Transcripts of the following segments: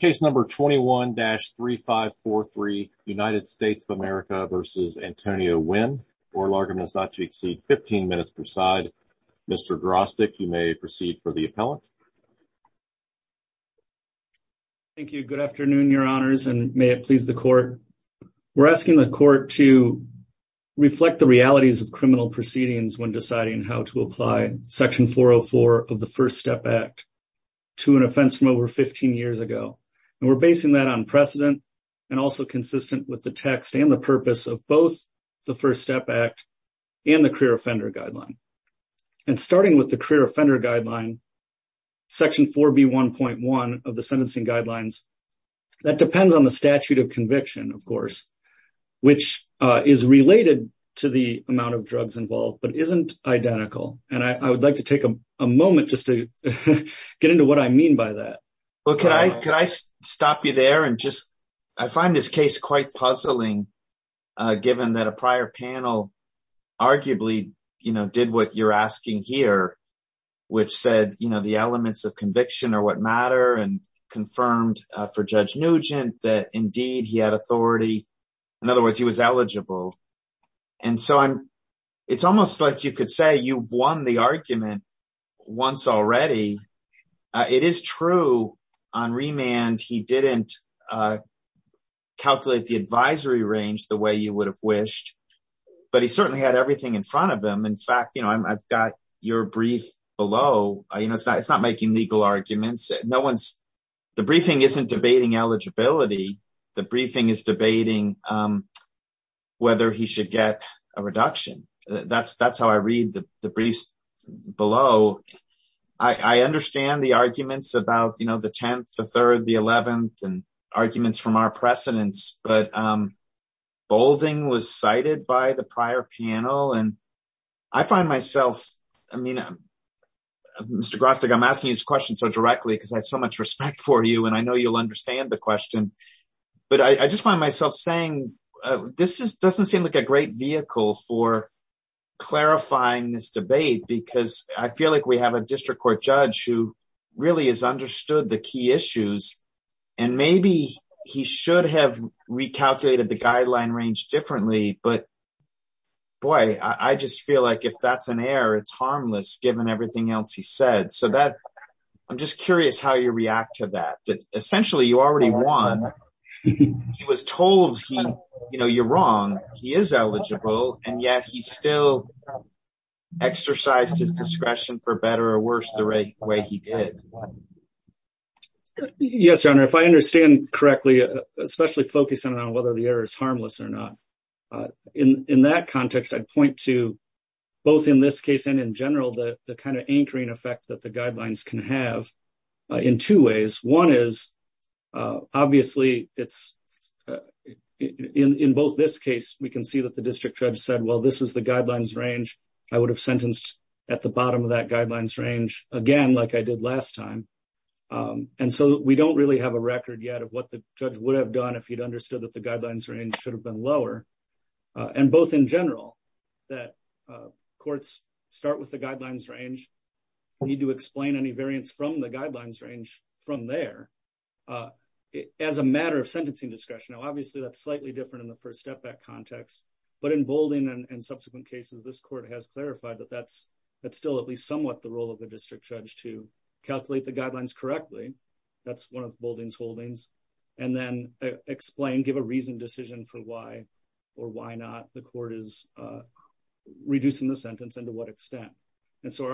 Case number 21-3543, United States of America v. Antonio Wynn. Oral argument is not to exceed 15 minutes per side. Mr. Drostek, you may proceed for the appellant. Thank you. Good afternoon, your honors, and may it please the court. We're asking the court to reflect the realities of criminal proceedings when deciding how to apply section 404 of the And we're basing that on precedent and also consistent with the text and the purpose of both the First Step Act and the Career Offender Guideline. And starting with the Career Offender Guideline, section 4B1.1 of the Sentencing Guidelines, that depends on the statute of conviction, of course, which is related to the amount of drugs involved but isn't identical. And I would like to take a moment just to get into what I mean by that. Well, could I stop you there? And just, I find this case quite puzzling, given that a prior panel arguably, you know, did what you're asking here, which said, you know, the elements of conviction are what matter and confirmed for Judge Nugent that indeed he had won the argument once already. It is true on remand, he didn't calculate the advisory range the way you would have wished, but he certainly had everything in front of him. In fact, you know, I've got your brief below, you know, it's not making legal arguments. No one's, the briefing isn't debating eligibility. The briefing is debating whether he should get a reduction. That's how I read the briefs below. I understand the arguments about, you know, the 10th, the 3rd, the 11th, and arguments from our precedents, but Boulding was cited by the prior panel and I find myself, I mean, Mr. Grostick, I'm asking you this question so directly because I have so much respect for you and I know you'll understand the question, but I just find myself saying, this doesn't seem like a great vehicle for clarifying this debate because I feel like we have a district court judge who really has understood the key issues and maybe he should have recalculated the guideline range differently, but boy, I just feel like if that's an error, it's harmless given everything else he said. So that, I'm just curious how you react to that, essentially you already won. He was told he, you know, you're wrong, he is eligible, and yet he still exercised his discretion for better or worse the way he did. Yes, Your Honor, if I understand correctly, especially focusing on whether the error is harmless or not, in that context, I'd point to both in this case and in general the kind anchoring effect that the guidelines can have in two ways. One is, obviously it's, in both this case, we can see that the district judge said, well, this is the guidelines range, I would have sentenced at the bottom of that guidelines range again, like I did last time, and so we don't really have a record yet of what the judge would have done if he'd understood that the guidelines range should have been lower, and both in general, that courts start with the need to explain any variance from the guidelines range from there as a matter of sentencing discretion. Now, obviously that's slightly different in the first step back context, but in Boulding and subsequent cases, this court has clarified that that's still at least somewhat the role of the district judge to calculate the guidelines correctly, that's one of Boulding's holdings, and then explain, give a reasoned decision for why or why not the court is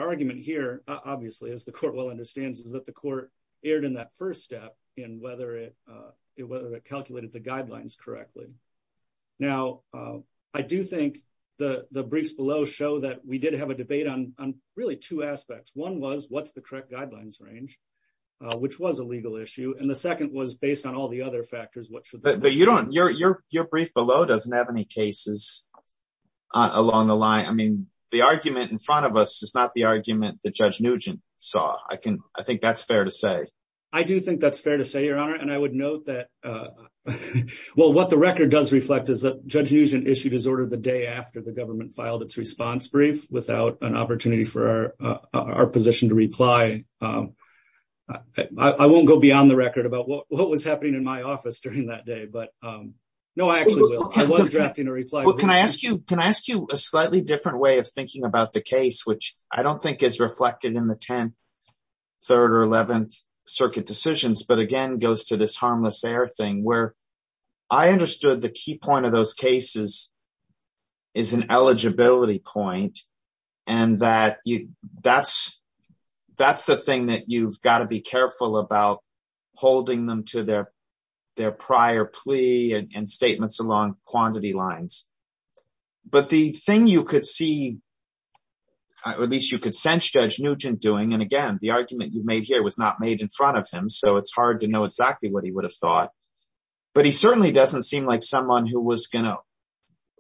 obviously, as the court well understands, is that the court erred in that first step in whether it calculated the guidelines correctly. Now, I do think the briefs below show that we did have a debate on really two aspects. One was, what's the correct guidelines range, which was a legal issue, and the second was based on all the other factors. Your brief below doesn't have any cases along the line. I mean, the argument in front of us is not the argument that Judge Nugent saw. I think that's fair to say. I do think that's fair to say, Your Honor, and I would note that, well, what the record does reflect is that Judge Nugent issued his order the day after the government filed its response brief without an opportunity for our position to reply. I won't go beyond the record about what was happening in my office during that day, but no, I actually will. I was drafting a reply. Well, can I ask you a slightly different way of thinking about the case, which I don't think is reflected in the 10th, 3rd, or 11th circuit decisions, but again, goes to this harmless error thing where I understood the key point of those cases is an eligibility point, and that's the thing that you've got to be careful about holding them to their prior plea and statements along quantity lines. But the thing you could see, or at least you could sense Judge Nugent doing, and again, the argument you've made here was not made in front of him, so it's hard to know exactly what he would have thought, but he certainly doesn't seem like someone who was going to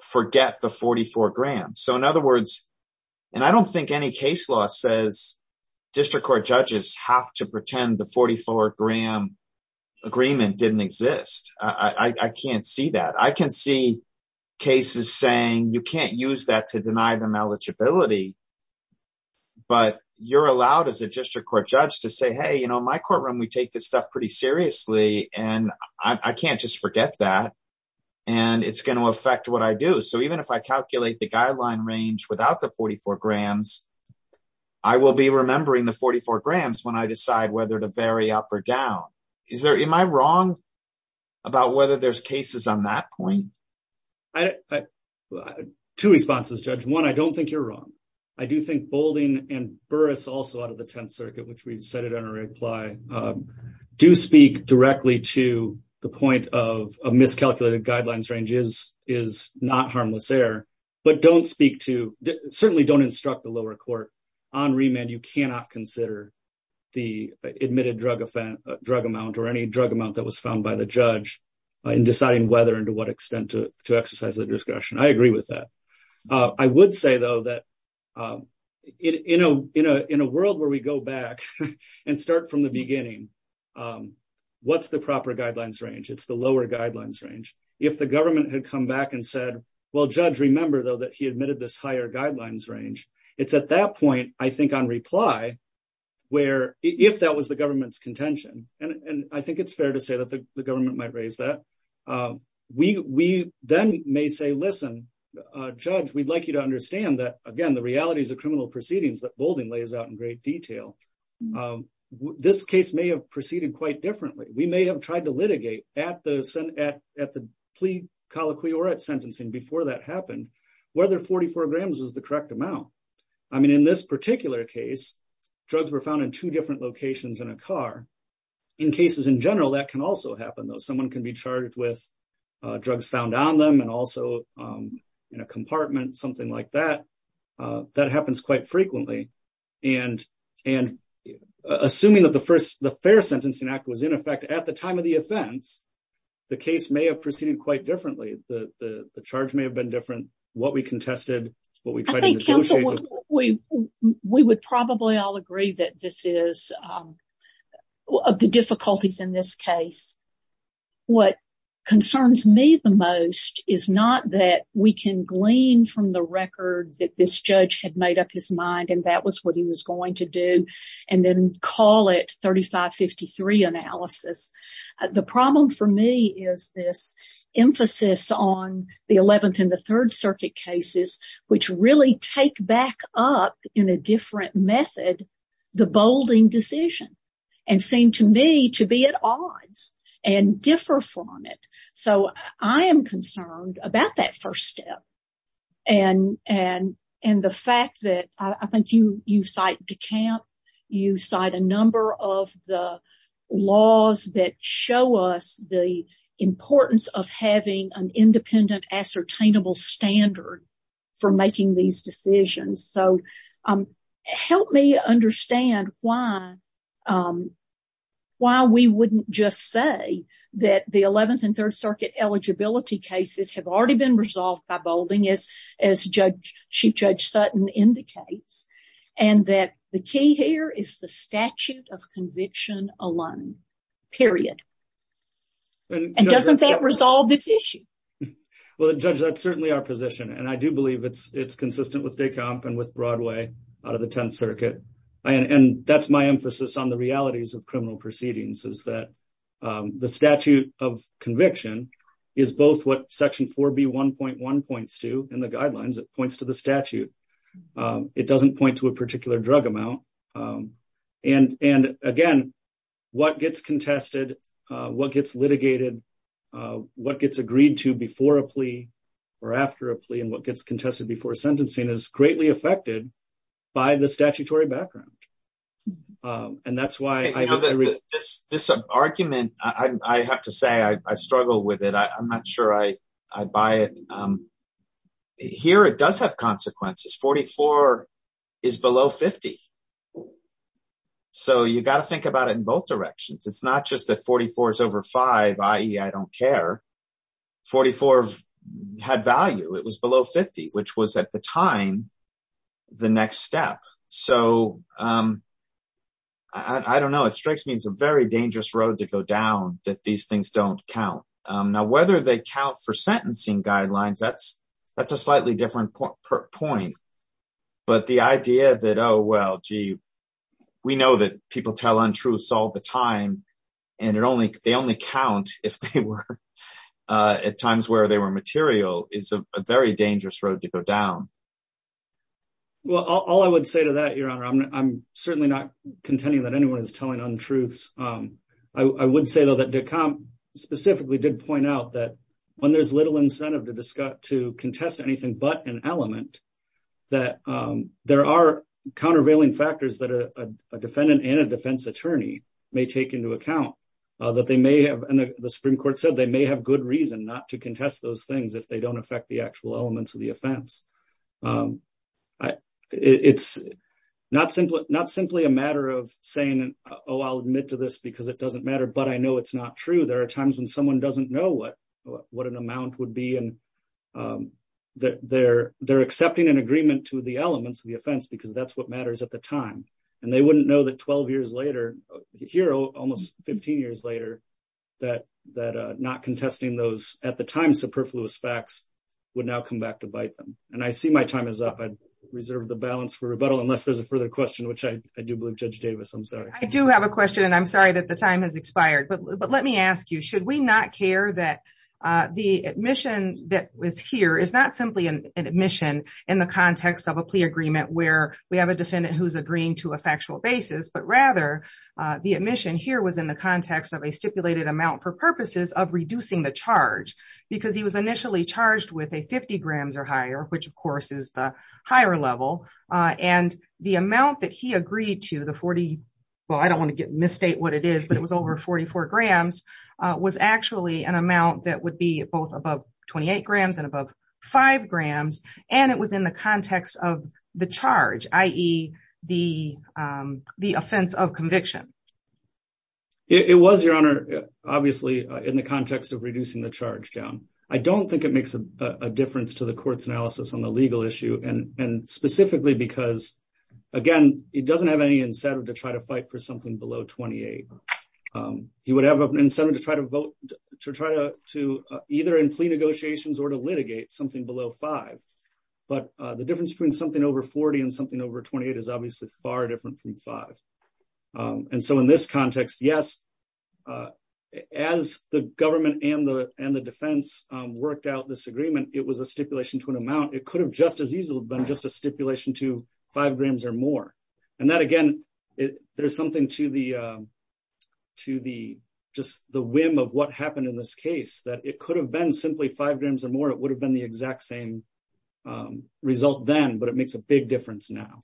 forget the 44 grand. So in other words, and I don't think any case law says district court judges have to agree that the 44-gram agreement didn't exist. I can't see that. I can see cases saying you can't use that to deny them eligibility, but you're allowed as a district court judge to say, hey, in my courtroom, we take this stuff pretty seriously, and I can't just forget that, and it's going to affect what I do. So even if I calculate the guideline range without the 44 up or down, am I wrong about whether there's cases on that point? Two responses, Judge. One, I don't think you're wrong. I do think Boulding and Burris also out of the Tenth Circuit, which we've cited in our reply, do speak directly to the point of a miscalculated guidelines range is not harmless there, but don't speak to, certainly don't instruct the lower court. On remand, you cannot consider the admitted drug amount or any drug amount that was found by the judge in deciding whether and to what extent to exercise the discretion. I agree with that. I would say, though, that in a world where we go back and start from the beginning, what's the proper guidelines range? It's the lower guidelines range. If the government had come back and said, well, Judge, remember, though, that he admitted this guidelines range, it's at that point, I think on reply, where if that was the government's contention, and I think it's fair to say that the government might raise that, we then may say, listen, Judge, we'd like you to understand that, again, the realities of criminal proceedings that Boulding lays out in great detail. This case may have proceeded quite differently. We may have tried to litigate at the plea colloquy or at sentencing before that happened, whether 44 grams was the correct amount. In this particular case, drugs were found in two different locations in a car. In cases in general, that can also happen, though. Someone can be charged with drugs found on them and also in a compartment, something like that. That happens quite frequently. And assuming that the Fair Sentencing Act was in effect at the time of the offense, the case may have proceeded quite differently. The charge may have been different, what we contested, what we tried to negotiate. I think, counsel, we would probably all agree that this is of the difficulties in this case. What concerns me the most is not that we can glean from the and that was what he was going to do and then call it 3553 analysis. The problem for me is this emphasis on the 11th and the Third Circuit cases, which really take back up in a different method the Boulding decision and seem to me to be at odds and differ from it. So I am concerned about that first step and the fact that I think you cite DeCamp, you cite a number of the laws that show us the importance of having an independent ascertainable standard for making these decisions. So help me understand why we wouldn't just say that the 11th and Third Circuit eligibility cases have already been resolved by Boulding, as Chief Judge Sutton indicates, and that the key here is the statute of conviction alone, period. And doesn't that resolve this issue? Well, Judge, that's certainly our position. And I do believe it's consistent with DeCamp and with Broadway out of the Tenth Circuit. And that's my emphasis on the realities of criminal proceedings is that the statute of conviction is both what Section 4B1.1 points to in the guidelines, it points to the statute. It doesn't point to a particular drug amount. And again, what gets contested, what gets litigated, what gets agreed to before a plea or after a plea, and what gets contested before sentencing is greatly affected by the statutory background. And that's why this argument, I have to say, I struggle with it. I'm not sure I buy it. Here, it does have consequences. 44 is below 50. So you got to think about it in both directions. It's not just that 44 is over five, i.e. I don't care. 44 had value, it was below 50, which was at the time, the next step. So I don't know, it strikes me as a very dangerous road to go down that these things don't count. Now, whether they count for sentencing guidelines, that's a slightly different point. But the idea that, oh, well, gee, we know that people tell untruths all the time. And they only count if they were at times where they were material is a very dangerous road to go down. Well, all I would say to that, Your Honor, I'm certainly not contending that anyone is telling untruths. I would say, though, that de Camp specifically did point out that when there's little incentive to contest anything but an element, that there are countervailing factors that a defendant and a defense attorney may take into account. And the Supreme Court said they may have good reason not to contest those things if they don't affect the actual elements of the offense. It's not simply a matter of saying, oh, I'll admit to this because it doesn't matter, but I know it's not true. There are times when someone doesn't know what an amount would be. And they're accepting an agreement to the elements of the offense because that's what matters at the time. And they wouldn't know that 12 years later, here almost 15 years later, that not contesting those at the time superfluous facts would now come back to bite them. And I see my time is up. I'd reserve the balance for rebuttal unless there's a further question, which I do believe Judge Davis, I'm sorry. I do have a question. And I'm sorry that the time has expired. But let me ask you, should we not care that the admission that was here is not simply an admission in the context of a plea agreement where we have a defendant who's agreeing to a factual basis, but rather the admission here was in the context of a stipulated amount for purposes of reducing the charge because he was initially charged with a 50 grams or higher, which of course is the higher level. And the amount that he agreed to the 40, well, I don't want to misstate what it is, but it was over 44 grams was actually an amount that would be both above 28 grams and above five grams. And it was in the context of the charge, i.e. the offense of conviction. It was your honor, obviously in the context of reducing the charge down. I don't think it makes a difference to the court's analysis on the legal issue. And specifically because again, it doesn't have any incentive to try to fight for something below 28. He would have an incentive to try to vote to either in plea negotiations or to litigate something below five. But the difference between something over 40 and something over 28 is obviously far different from five. And so in this context, yes, as the government and the defense worked out this agreement, it was a stipulation to an amount. It could have just as easily been a stipulation to five grams or more. And that again, there's something to the whim of what happened in this case, that it could have been simply five grams or more. It would have been the exact same result then, but it makes a big difference now.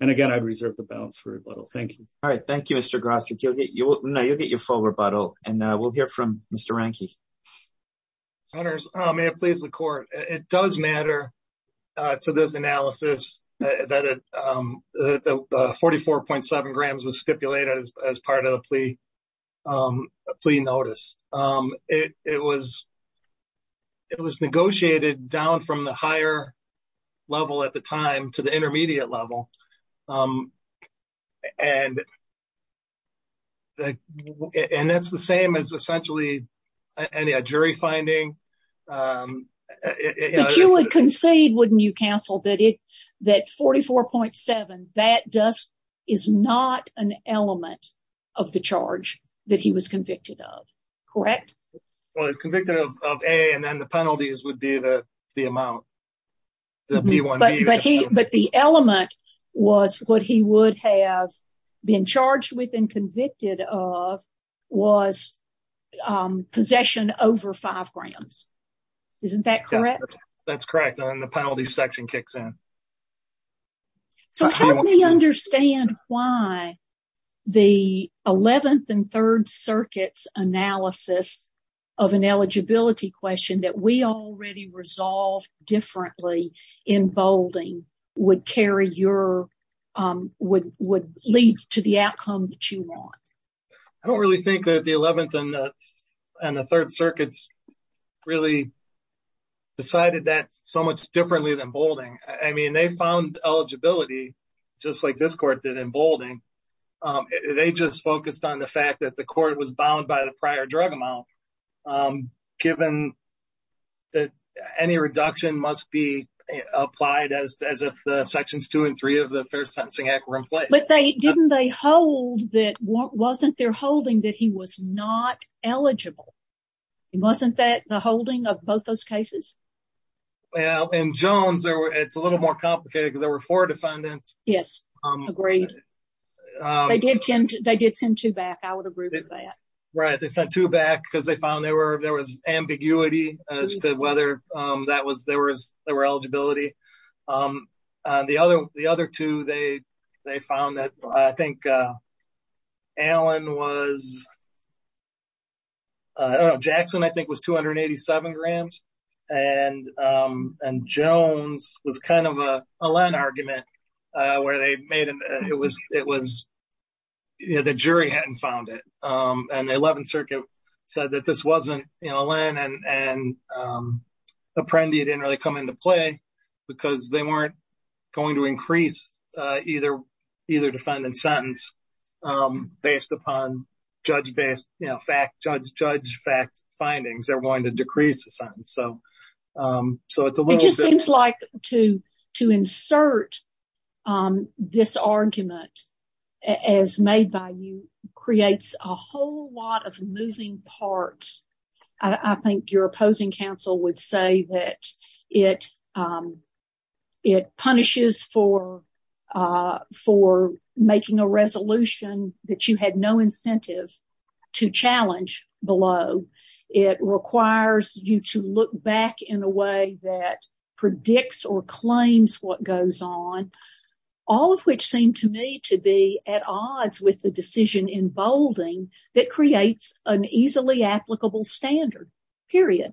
And again, I'd reserve the balance for rebuttal. Thank you. All right. Thank you, Mr. Grostek. You'll get your full rebuttal and we'll hear from Mr. Ranke. May it please the court. It does matter to this analysis that the 44.7 grams was stipulated as part of the plea notice. It was negotiated down from the higher level at the time to the intermediate level. And that's the same as essentially a jury finding. But you would concede, wouldn't you counsel, that 44.7, that is not an element of the charge that he was convicted of, correct? Well, he was convicted of A and then the penalties would be the amount. But the element was what he would have been charged with and convicted of was possession over five grams. Isn't that correct? That's correct. And then the penalty section kicks in. So help me understand why the 11th and Third Circuit's analysis of an eligibility question that we already resolved differently in Boulding would lead to the outcome that you want. I don't really think that the 11th and the Third Circuit's really decided that so much differently than Boulding. I mean, they found eligibility just like this court did in Boulding. They just focused on the fact that the court was bound by the prior drug amount, given that any reduction must be applied as if the sections two and three of the Fair Sentencing Act were in place. But didn't they hold that, wasn't there holding that he was not eligible? Wasn't that the holding of both those cases? Well, in Jones, it's a little more complicated because there were four defendants. Yes. Agreed. They did send two back. I would agree with that. Right. They sent two back because they found there was ambiguity as to whether there were eligibility. The other two, they found that, I think, Jackson, I think, was 287 grams. And Jones was kind of a Len argument where the jury hadn't found it. And the 11th Circuit said that this wasn't, you know, Len and Apprendi didn't really come into play because they weren't going to increase either defendant's sentence based upon you know, judge fact findings. They're going to decrease the sentence. So it just seems like to insert this argument as made by you creates a whole lot of moving parts. I think your opposing counsel would say that it punishes for making a resolution that you had no incentive to challenge below. It requires you to look back in a way that predicts or claims what goes on, all of which seem to me to be at odds with the decision in bolding that creates an easily applicable standard, period.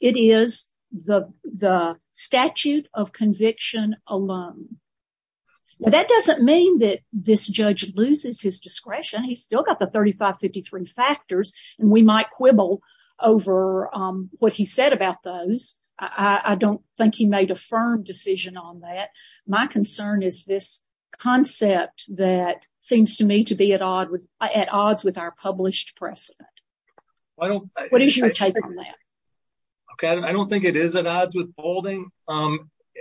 It is the statute of conviction alone. Well, that doesn't mean that this judge loses his discretion. He's still got the 3553 factors and we might quibble over what he said about those. I don't think he made a firm decision on that. My concern is this concept that seems to me to be at odds with our published precedent. What is your take on that? Okay, I don't think it is at odds with bolding.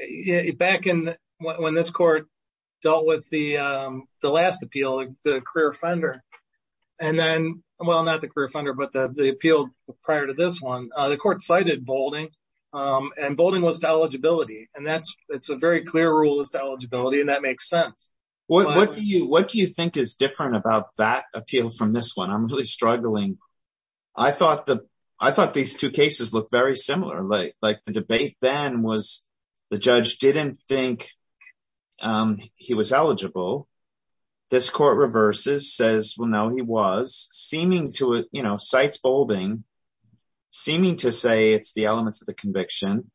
Yeah, back in when this court dealt with the last appeal, the career offender and then, well, not the career offender, but the appeal prior to this one, the court cited bolding and bolding was to eligibility. And that's, it's a very clear rule as to eligibility and that makes sense. What do you think is different about that appeal from this one? I'm really struggling. I thought these two cases look very similar. Like the debate then was the judge didn't think he was eligible. This court reverses, says, well, no, he was, seeming to, you know, cites bolding, seeming to say it's the elements of the conviction,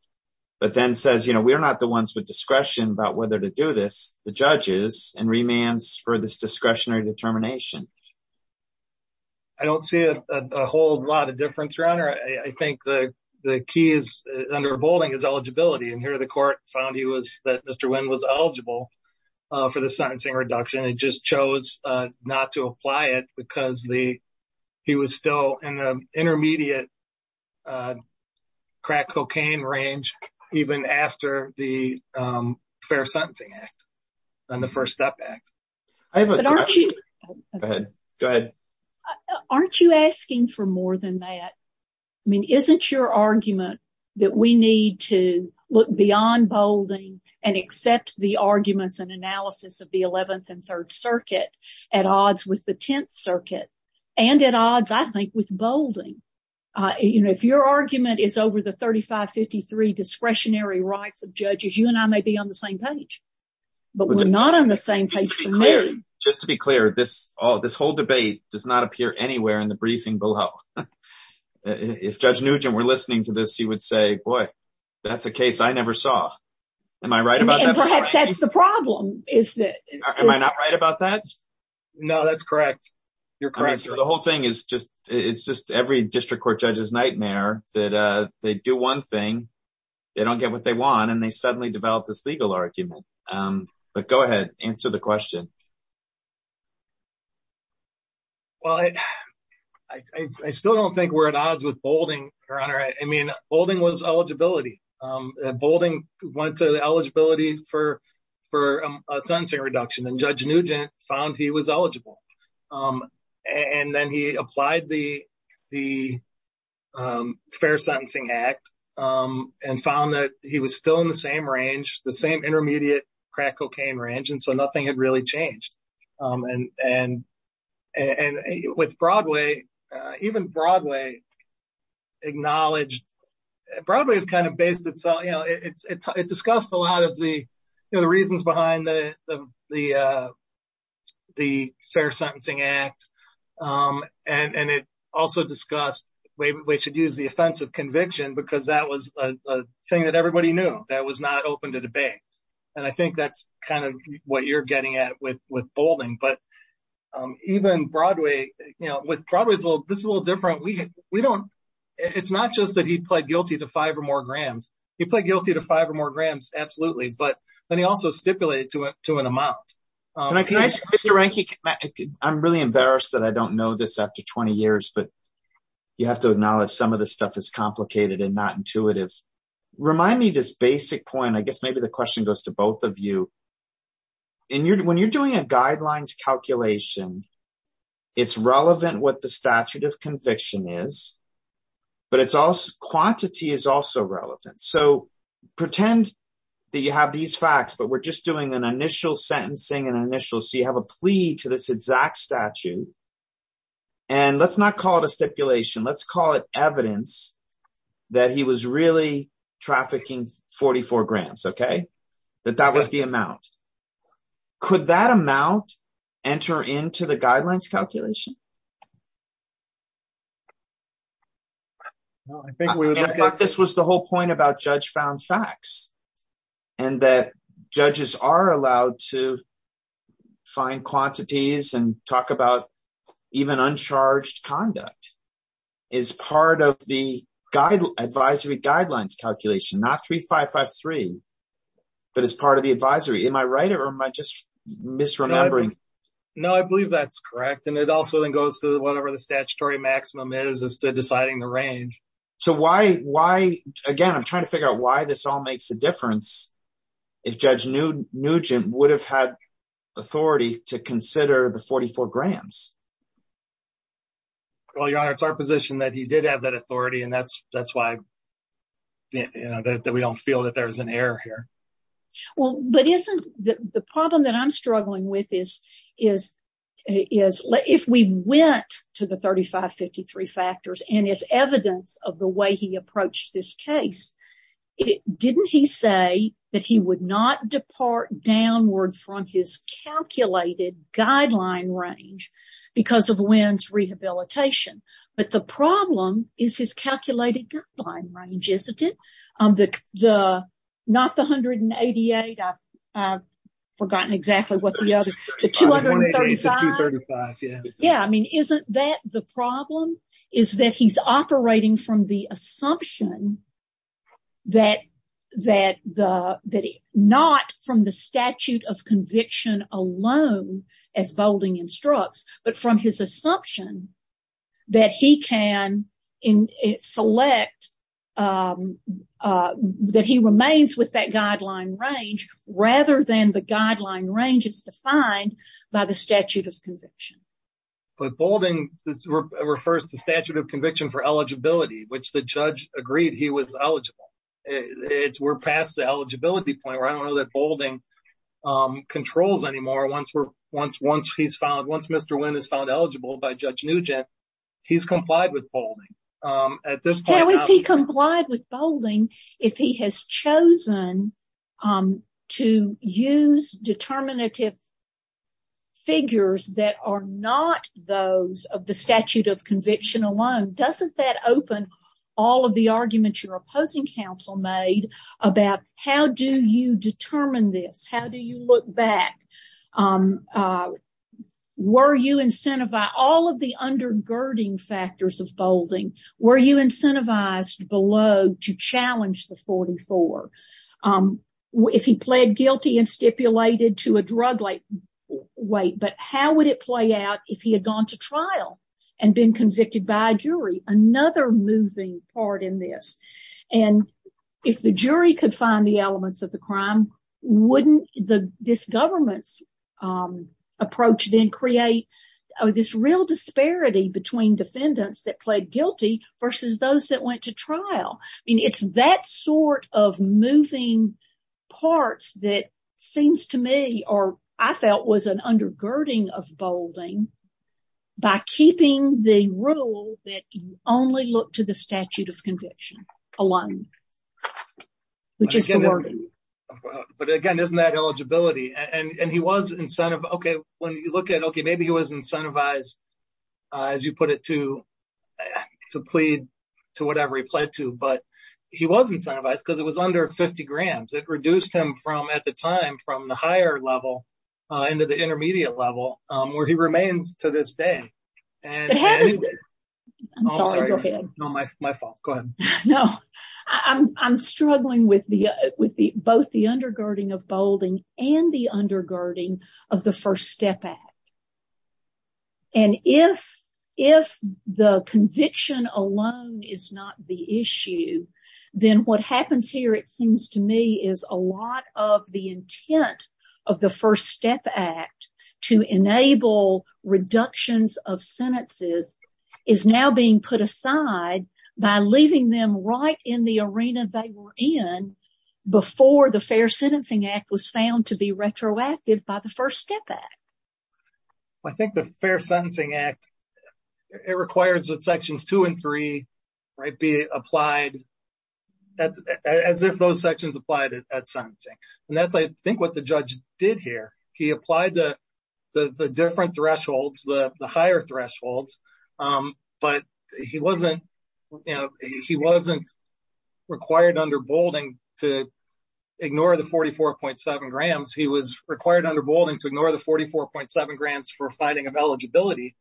but then says, you know, we are not the ones with discretion about whether to do this, the judges and remands for this discretionary determination. I don't see a whole lot of difference, Your Honor. I think the key is under bolding is eligibility. And here the court found he was, that Mr. Wynn was eligible for the sentencing reduction and just chose not to apply it because he was still in the intermediate crack cocaine range, even after the Fair Sentencing Act and the First Step Act. Aren't you asking for more than that? I mean, isn't your argument that we need to look beyond bolding and accept the arguments and analysis of the 11th and 3rd Circuit at odds with the 10th and 3rd Circuit? If your argument is over the 3553 discretionary rights of judges, you and I may be on the same page, but we're not on the same page for me. Just to be clear, this whole debate does not appear anywhere in the briefing below. If Judge Nugent were listening to this, he would say, boy, that's a case I never saw. Am I right about that? Perhaps that's the problem. Am I not right about that? No, that's correct. You're correct. So the whole thing is just, it's just every district court judge's nightmare that they do one thing, they don't get what they want, and they suddenly develop this legal argument. But go ahead, answer the question. Well, I still don't think we're at odds with bolding, Your Honor. I mean, bolding was eligibility. Bolding went to eligibility for a sentencing reduction and Judge Nugent found he was eligible. And then he applied the Fair Sentencing Act and found that he was still in the same range, the same intermediate crack cocaine range, and so nothing had really changed. And with Broadway, even Broadway acknowledged, Broadway has kind of based itself, it discussed a lot of the reasons behind the Fair Sentencing Act. And it also discussed, we should use the offensive conviction because that was a thing that everybody knew that was not open to debate. And I think that's kind of what you're getting at with bolding. But even Broadway, with Broadway, this is a little different. It's not just that he pled guilty to he pled guilty to five or more grams, absolutely. But then he also stipulated to an amount. I'm really embarrassed that I don't know this after 20 years, but you have to acknowledge some of this stuff is complicated and not intuitive. Remind me this basic point, I guess maybe the question goes to both of you. When you're doing a guidelines calculation, it's relevant what the statute of conviction is, but it's also quantity is also relevant. So pretend that you have these facts, but we're just doing an initial sentencing and initial. So you have a plea to this exact statute. And let's not call it a stipulation. Let's call it evidence that he was really trafficking 44 grams, okay? That that was the amount. Could that amount enter into the guidelines calculation? No, I think this was the whole point about judge found facts and that judges are allowed to find quantities and talk about even uncharged conduct is part of the advisory guidelines calculation, not 3553, but as part of the advisory. Am I right or am I just misremembering? No, I believe that's correct. And it also then goes to whatever the statutory maximum is as to deciding the range. So why, again, I'm trying to figure out why this all makes a difference. If judge Nugent would have had authority to consider the 44 grams. Well, your honor, it's our position that he did have that authority and that's why that we don't feel that there's an error here. Well, but isn't the problem that I'm struggling with is if we went to the 3553 factors and it's evidence of the way he approached this case, didn't he say that he would not depart downward from his calculated guideline range because of WINS rehabilitation? But the problem is his calculated guideline range, isn't it? The not the hundred and eighty eight. I've forgotten exactly what the other two hundred and thirty five. Yeah. Yeah. I mean, isn't that the problem is that he's operating from the assumption that that the that not from the statute of conviction alone as Boulding instructs, but from his assumption that he can select that he remains with that guideline range rather than the guideline range is defined by the statute of conviction. But Boulding refers to statute of conviction for eligibility, which the judge agreed he was eligible. It's we're past the eligibility point where I don't know that Boulding controls anymore. Once we're once once he's found once Mr. Wynn is found eligible by Judge Nugent, he's complied with Boulding at this point. Has he complied with Boulding if he has chosen to use determinative figures that are not those of the statute of conviction alone? Doesn't that open all of the arguments your opposing counsel made about how do you determine this? How do you look back? Were you incentivized by all of the undergirding factors of Boulding? Were you incentivized below to challenge the 44 if he pled guilty and stipulated to a drug like weight? But how would it play out if he had gone to trial and been convicted by a jury? Another moving part in this. And if the jury could find the elements of the crime, wouldn't the this government's approach then create this real disparity between defendants that pled guilty versus those that went to trial? I mean, it's that sort of moving parts that seems to me or I felt was an undergirding of Boulding by keeping the rule that you only look to the statute of conviction alone, which is the wording. But again, isn't that eligibility? And he was incentivized. Okay, when you look at, okay, maybe he was incentivized, as you put it, to plead to whatever he pled to, but he was incentivized because it was under 50 grams. It reduced him from at the time from the level into the intermediate level where he remains to this day. I'm struggling with both the undergirding of Boulding and the undergirding of the First Step Act. And if the conviction alone is not the issue, then what happens here, it seems to me, is a lot of the intent of the First Step Act to enable reductions of sentences is now being put aside by leaving them right in the arena they were in before the Fair Sentencing Act was found to be retroactive by the First Step Act. I think the Fair Sentencing Act, it requires that sections two and three be applied as if those sections applied at sentencing. And that's, I think, what the judge did here. He applied the different thresholds, the higher thresholds, but he wasn't required under Boulding to ignore the 44.7 grams. He was required under Boulding to ignore the 44.7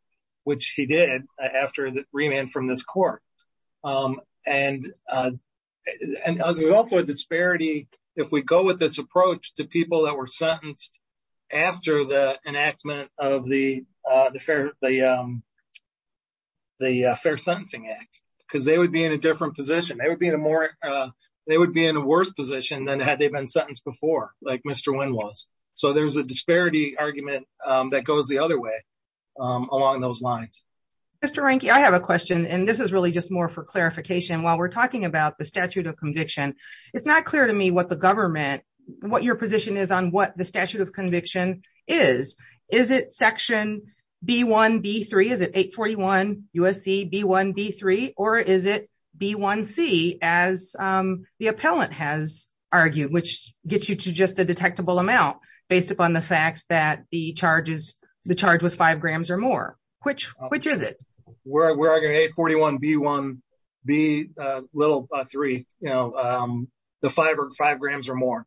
which he did after the remand from this court. And there's also a disparity if we go with this approach to people that were sentenced after the enactment of the Fair Sentencing Act because they would be in a different position. They would be in a worse position than had they been sentenced before like Mr. Wynn was. So there's a disparity argument that goes the other way along those lines. Mr. Reinke, I have a question and this is really just more for clarification. While we're talking about the statute of conviction, it's not clear to me what the government, what your position is on what the statute of conviction is. Is it section B1B3? Is it 841 USC B1B3? Or is it B1C as the detectable amount based upon the fact that the charge was five grams or more? Which is it? We're arguing 841 B1B3. The five grams or more.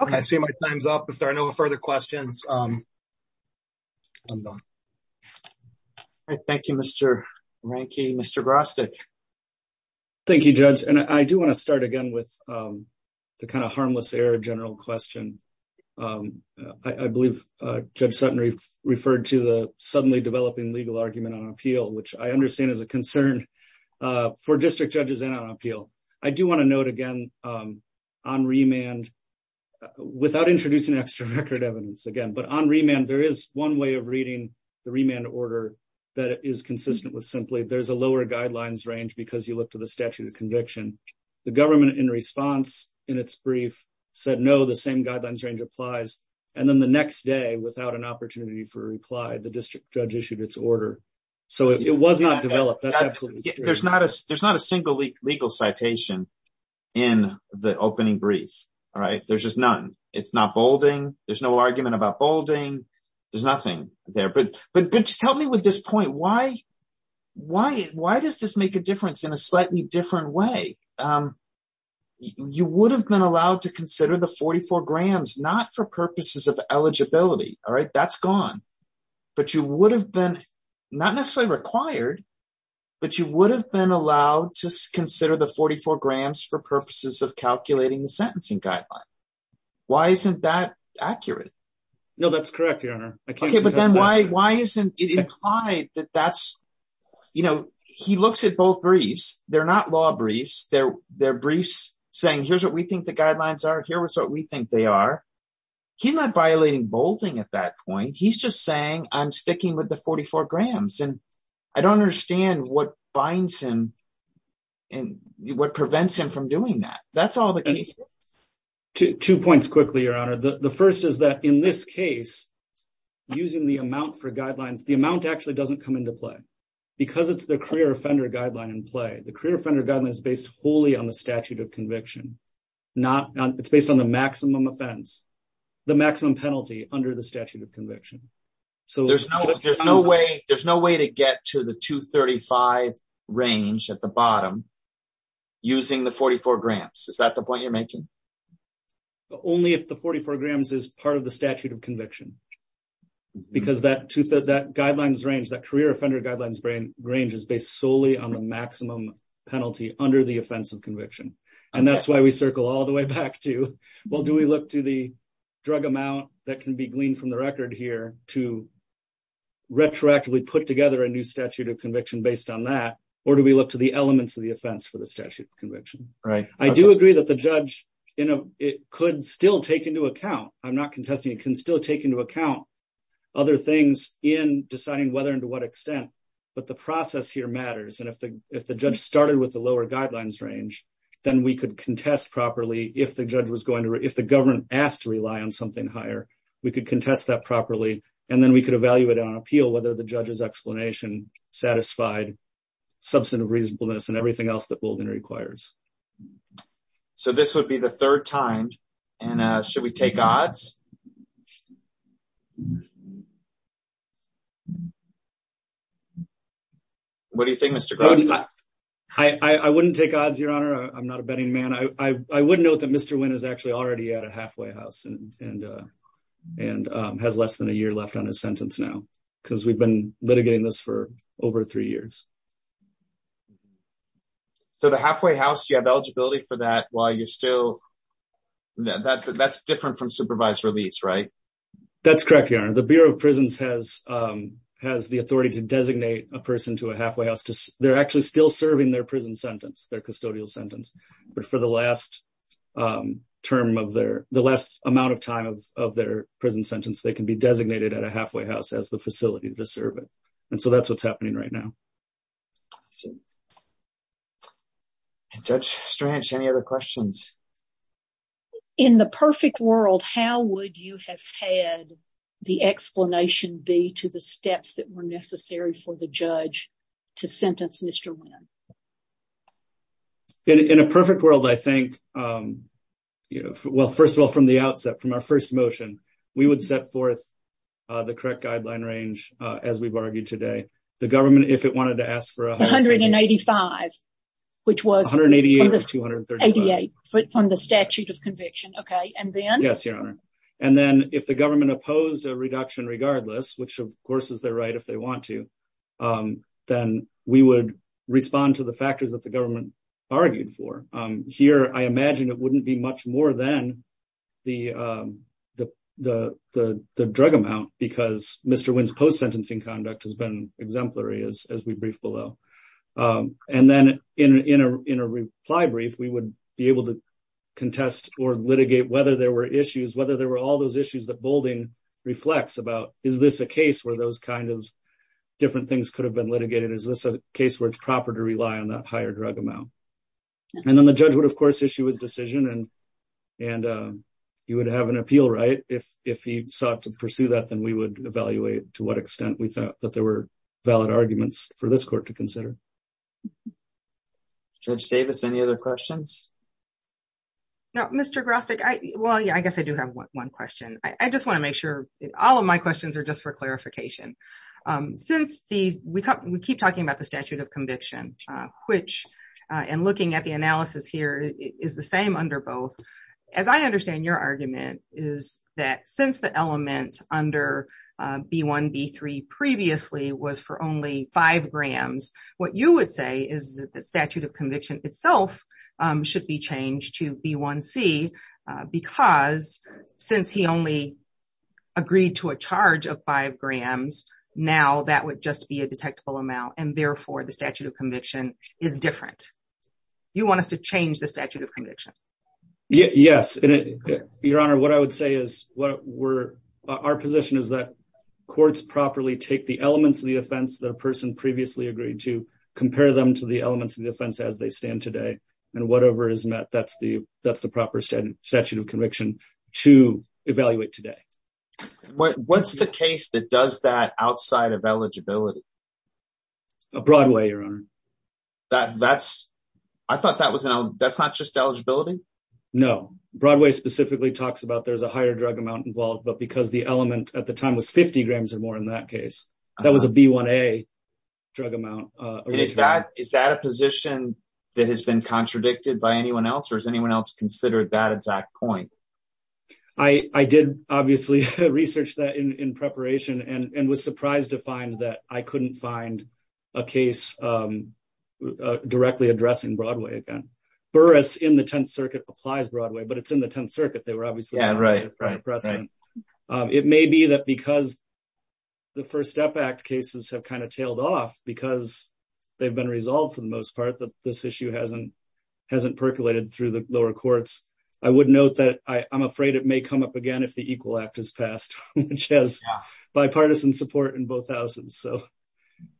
Okay, I see my time's up. If there are no further questions, I'm done. All right, thank you, Mr. Reinke. Mr. Grostek. Thank you, Judge. And I do want to start again with the kind of harmless error general question. I believe Judge Sutton referred to the suddenly developing legal argument on appeal, which I understand is a concern for district judges and on appeal. I do want to note again on remand, without introducing extra record evidence again, but on remand, there is one way reading the remand order that is consistent with simply there's a lower guidelines range because you look to the statute of conviction. The government in response in its brief said no, the same guidelines range applies. And then the next day without an opportunity for reply, the district judge issued its order. So it was not developed. That's absolutely true. There's not a single legal citation in the opening brief. All right, there's just none. It's not bolding. There's no argument about bolding. There's nothing there. But just help me with this point. Why does this make a difference in a slightly different way? You would have been allowed to consider the 44 grams, not for purposes of eligibility. All right, that's gone. But you would have been not necessarily required, but you would have been allowed to consider the 44 grams for purposes of calculating the sentencing guideline. Why isn't that accurate? No, that's correct, Your Honor. Okay, but then why isn't it implied that that's, you know, he looks at both briefs. They're not law briefs. They're briefs saying here's what we think the guidelines are. Here's what we think they are. He's not violating bolding at that point. He's just saying I'm sticking with the 44 grams. And I don't understand what binds him and what prevents him from doing that. That's all the case. Two points quickly, Your Honor. The first is that in this case, using the amount for guidelines, the amount actually doesn't come into play. Because it's the career offender guideline in play. The career offender guideline is based wholly on the statute of conviction. It's based on the maximum offense, the maximum penalty under the statute of conviction. So there's no way to get to the 235 range at the bottom using the 44 grams. Is that the point you're making? Only if the 44 grams is part of the statute of conviction. Because that guidelines range, that career offender guidelines range is based solely on the maximum penalty under the offense of conviction. And that's why we circle all the way back to, well, do we look to the record here to retroactively put together a new statute of conviction based on that? Or do we look to the elements of the offense for the statute of conviction? I do agree that the judge, it could still take into account, I'm not contesting, it can still take into account other things in deciding whether and to what extent. But the process here matters. And if the judge started with the lower guidelines range, then we could contest properly if the government asked to rely on something higher. We could contest that properly. And then we could evaluate on appeal whether the judge's explanation satisfied substantive reasonableness and everything else that Bouldin requires. So this would be the third time. And should we take odds? What do you think, Mr. Gross? I wouldn't take odds, Your Honor. I'm not a betting man. I would take odds. I would take odds. I would take odds. I would take odds. So the halfway house, you have eligibility for that while you're still... That's different from supervised release, right? That's correct, Your Honor. The Bureau of Prisons has the authority to designate a person to a halfway house. They're actually still serving their prison sentence, their custodial sentence. But for the last term of their, the last amount of time of their prison sentence, they can be designated at a halfway house as the facility to serve it. And so that's what's happening right now. Judge Strange, any other questions? In the perfect world, how would you have had the explanation be to the steps that were necessary for the judge to sentence Mr. Wynn? In a perfect world, I think... First of all, from the outset, from our first motion, we would set forth the correct guideline range as we've argued today. The government, if it wanted to ask for a... 185, which was... 188 or 235. 88 from the statute of conviction. Okay. And then... Yes, Your Honor. And then if the government opposed a reduction regardless, which of course is their right if they want to, then we would respond to the factors that the government argued for. Here, I imagine it wouldn't be much more than the drug amount because Mr. Wynn's post-sentencing conduct has been exemplary as we brief below. And then in a reply brief, we would be able to contest or litigate whether there were issues, whether there were all those issues that Boulding reflects about. Is this a case where those different things could have been litigated? Is this a case where it's proper to rely on that higher drug amount? And then the judge would, of course, issue his decision and he would have an appeal, right? If he sought to pursue that, then we would evaluate to what extent we thought that there were valid arguments for this court to consider. Judge Davis, any other questions? No, Mr. Grostek, I... Well, yeah, I guess I do have one question. I just want to make sure... All of my questions are just for clarification. We keep talking about the statute of conviction, which, and looking at the analysis here, is the same under both. As I understand your argument is that since the element under B1, B3 previously was for only five grams, what you would say is that the statute of conviction itself should be changed to B1C because since he only agreed to a charge of five grams, now that would just be a detectable amount and therefore the statute of conviction is different. You want us to change the statute of conviction? Yes. Your Honor, what I would say is our position is that courts properly take the elements of the offense that a person previously agreed to, compare them to the elements of the statute of conviction, to evaluate today. What's the case that does that outside of eligibility? Broadway, Your Honor. That's... I thought that was... That's not just eligibility? No. Broadway specifically talks about there's a higher drug amount involved, but because the element at the time was 50 grams or more in that case, that was a B1A drug amount. Is that a position that has been contradicted by anyone else or has anyone else considered that exact point? I did obviously research that in preparation and was surprised to find that I couldn't find a case directly addressing Broadway again. Burris in the Tenth Circuit applies Broadway, but it's in the Tenth Circuit. They were obviously... Yeah, right. It may be that because the First Step Act cases have kind of tailed off because they've been I would note that I'm afraid it may come up again if the Equal Act is passed, which has bipartisan support in both houses.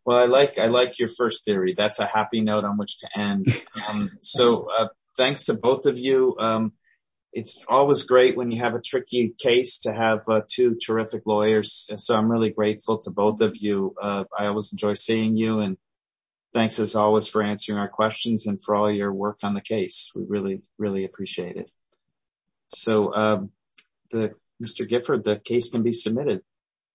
Well, I like your first theory. That's a happy note on which to end. So thanks to both of you. It's always great when you have a tricky case to have two terrific lawyers. So I'm really grateful to both of you. I always enjoy seeing you and thanks as always for answering our questions and for all your work on the case. We really, really appreciate it. So Mr. Gifford, the case can be submitted.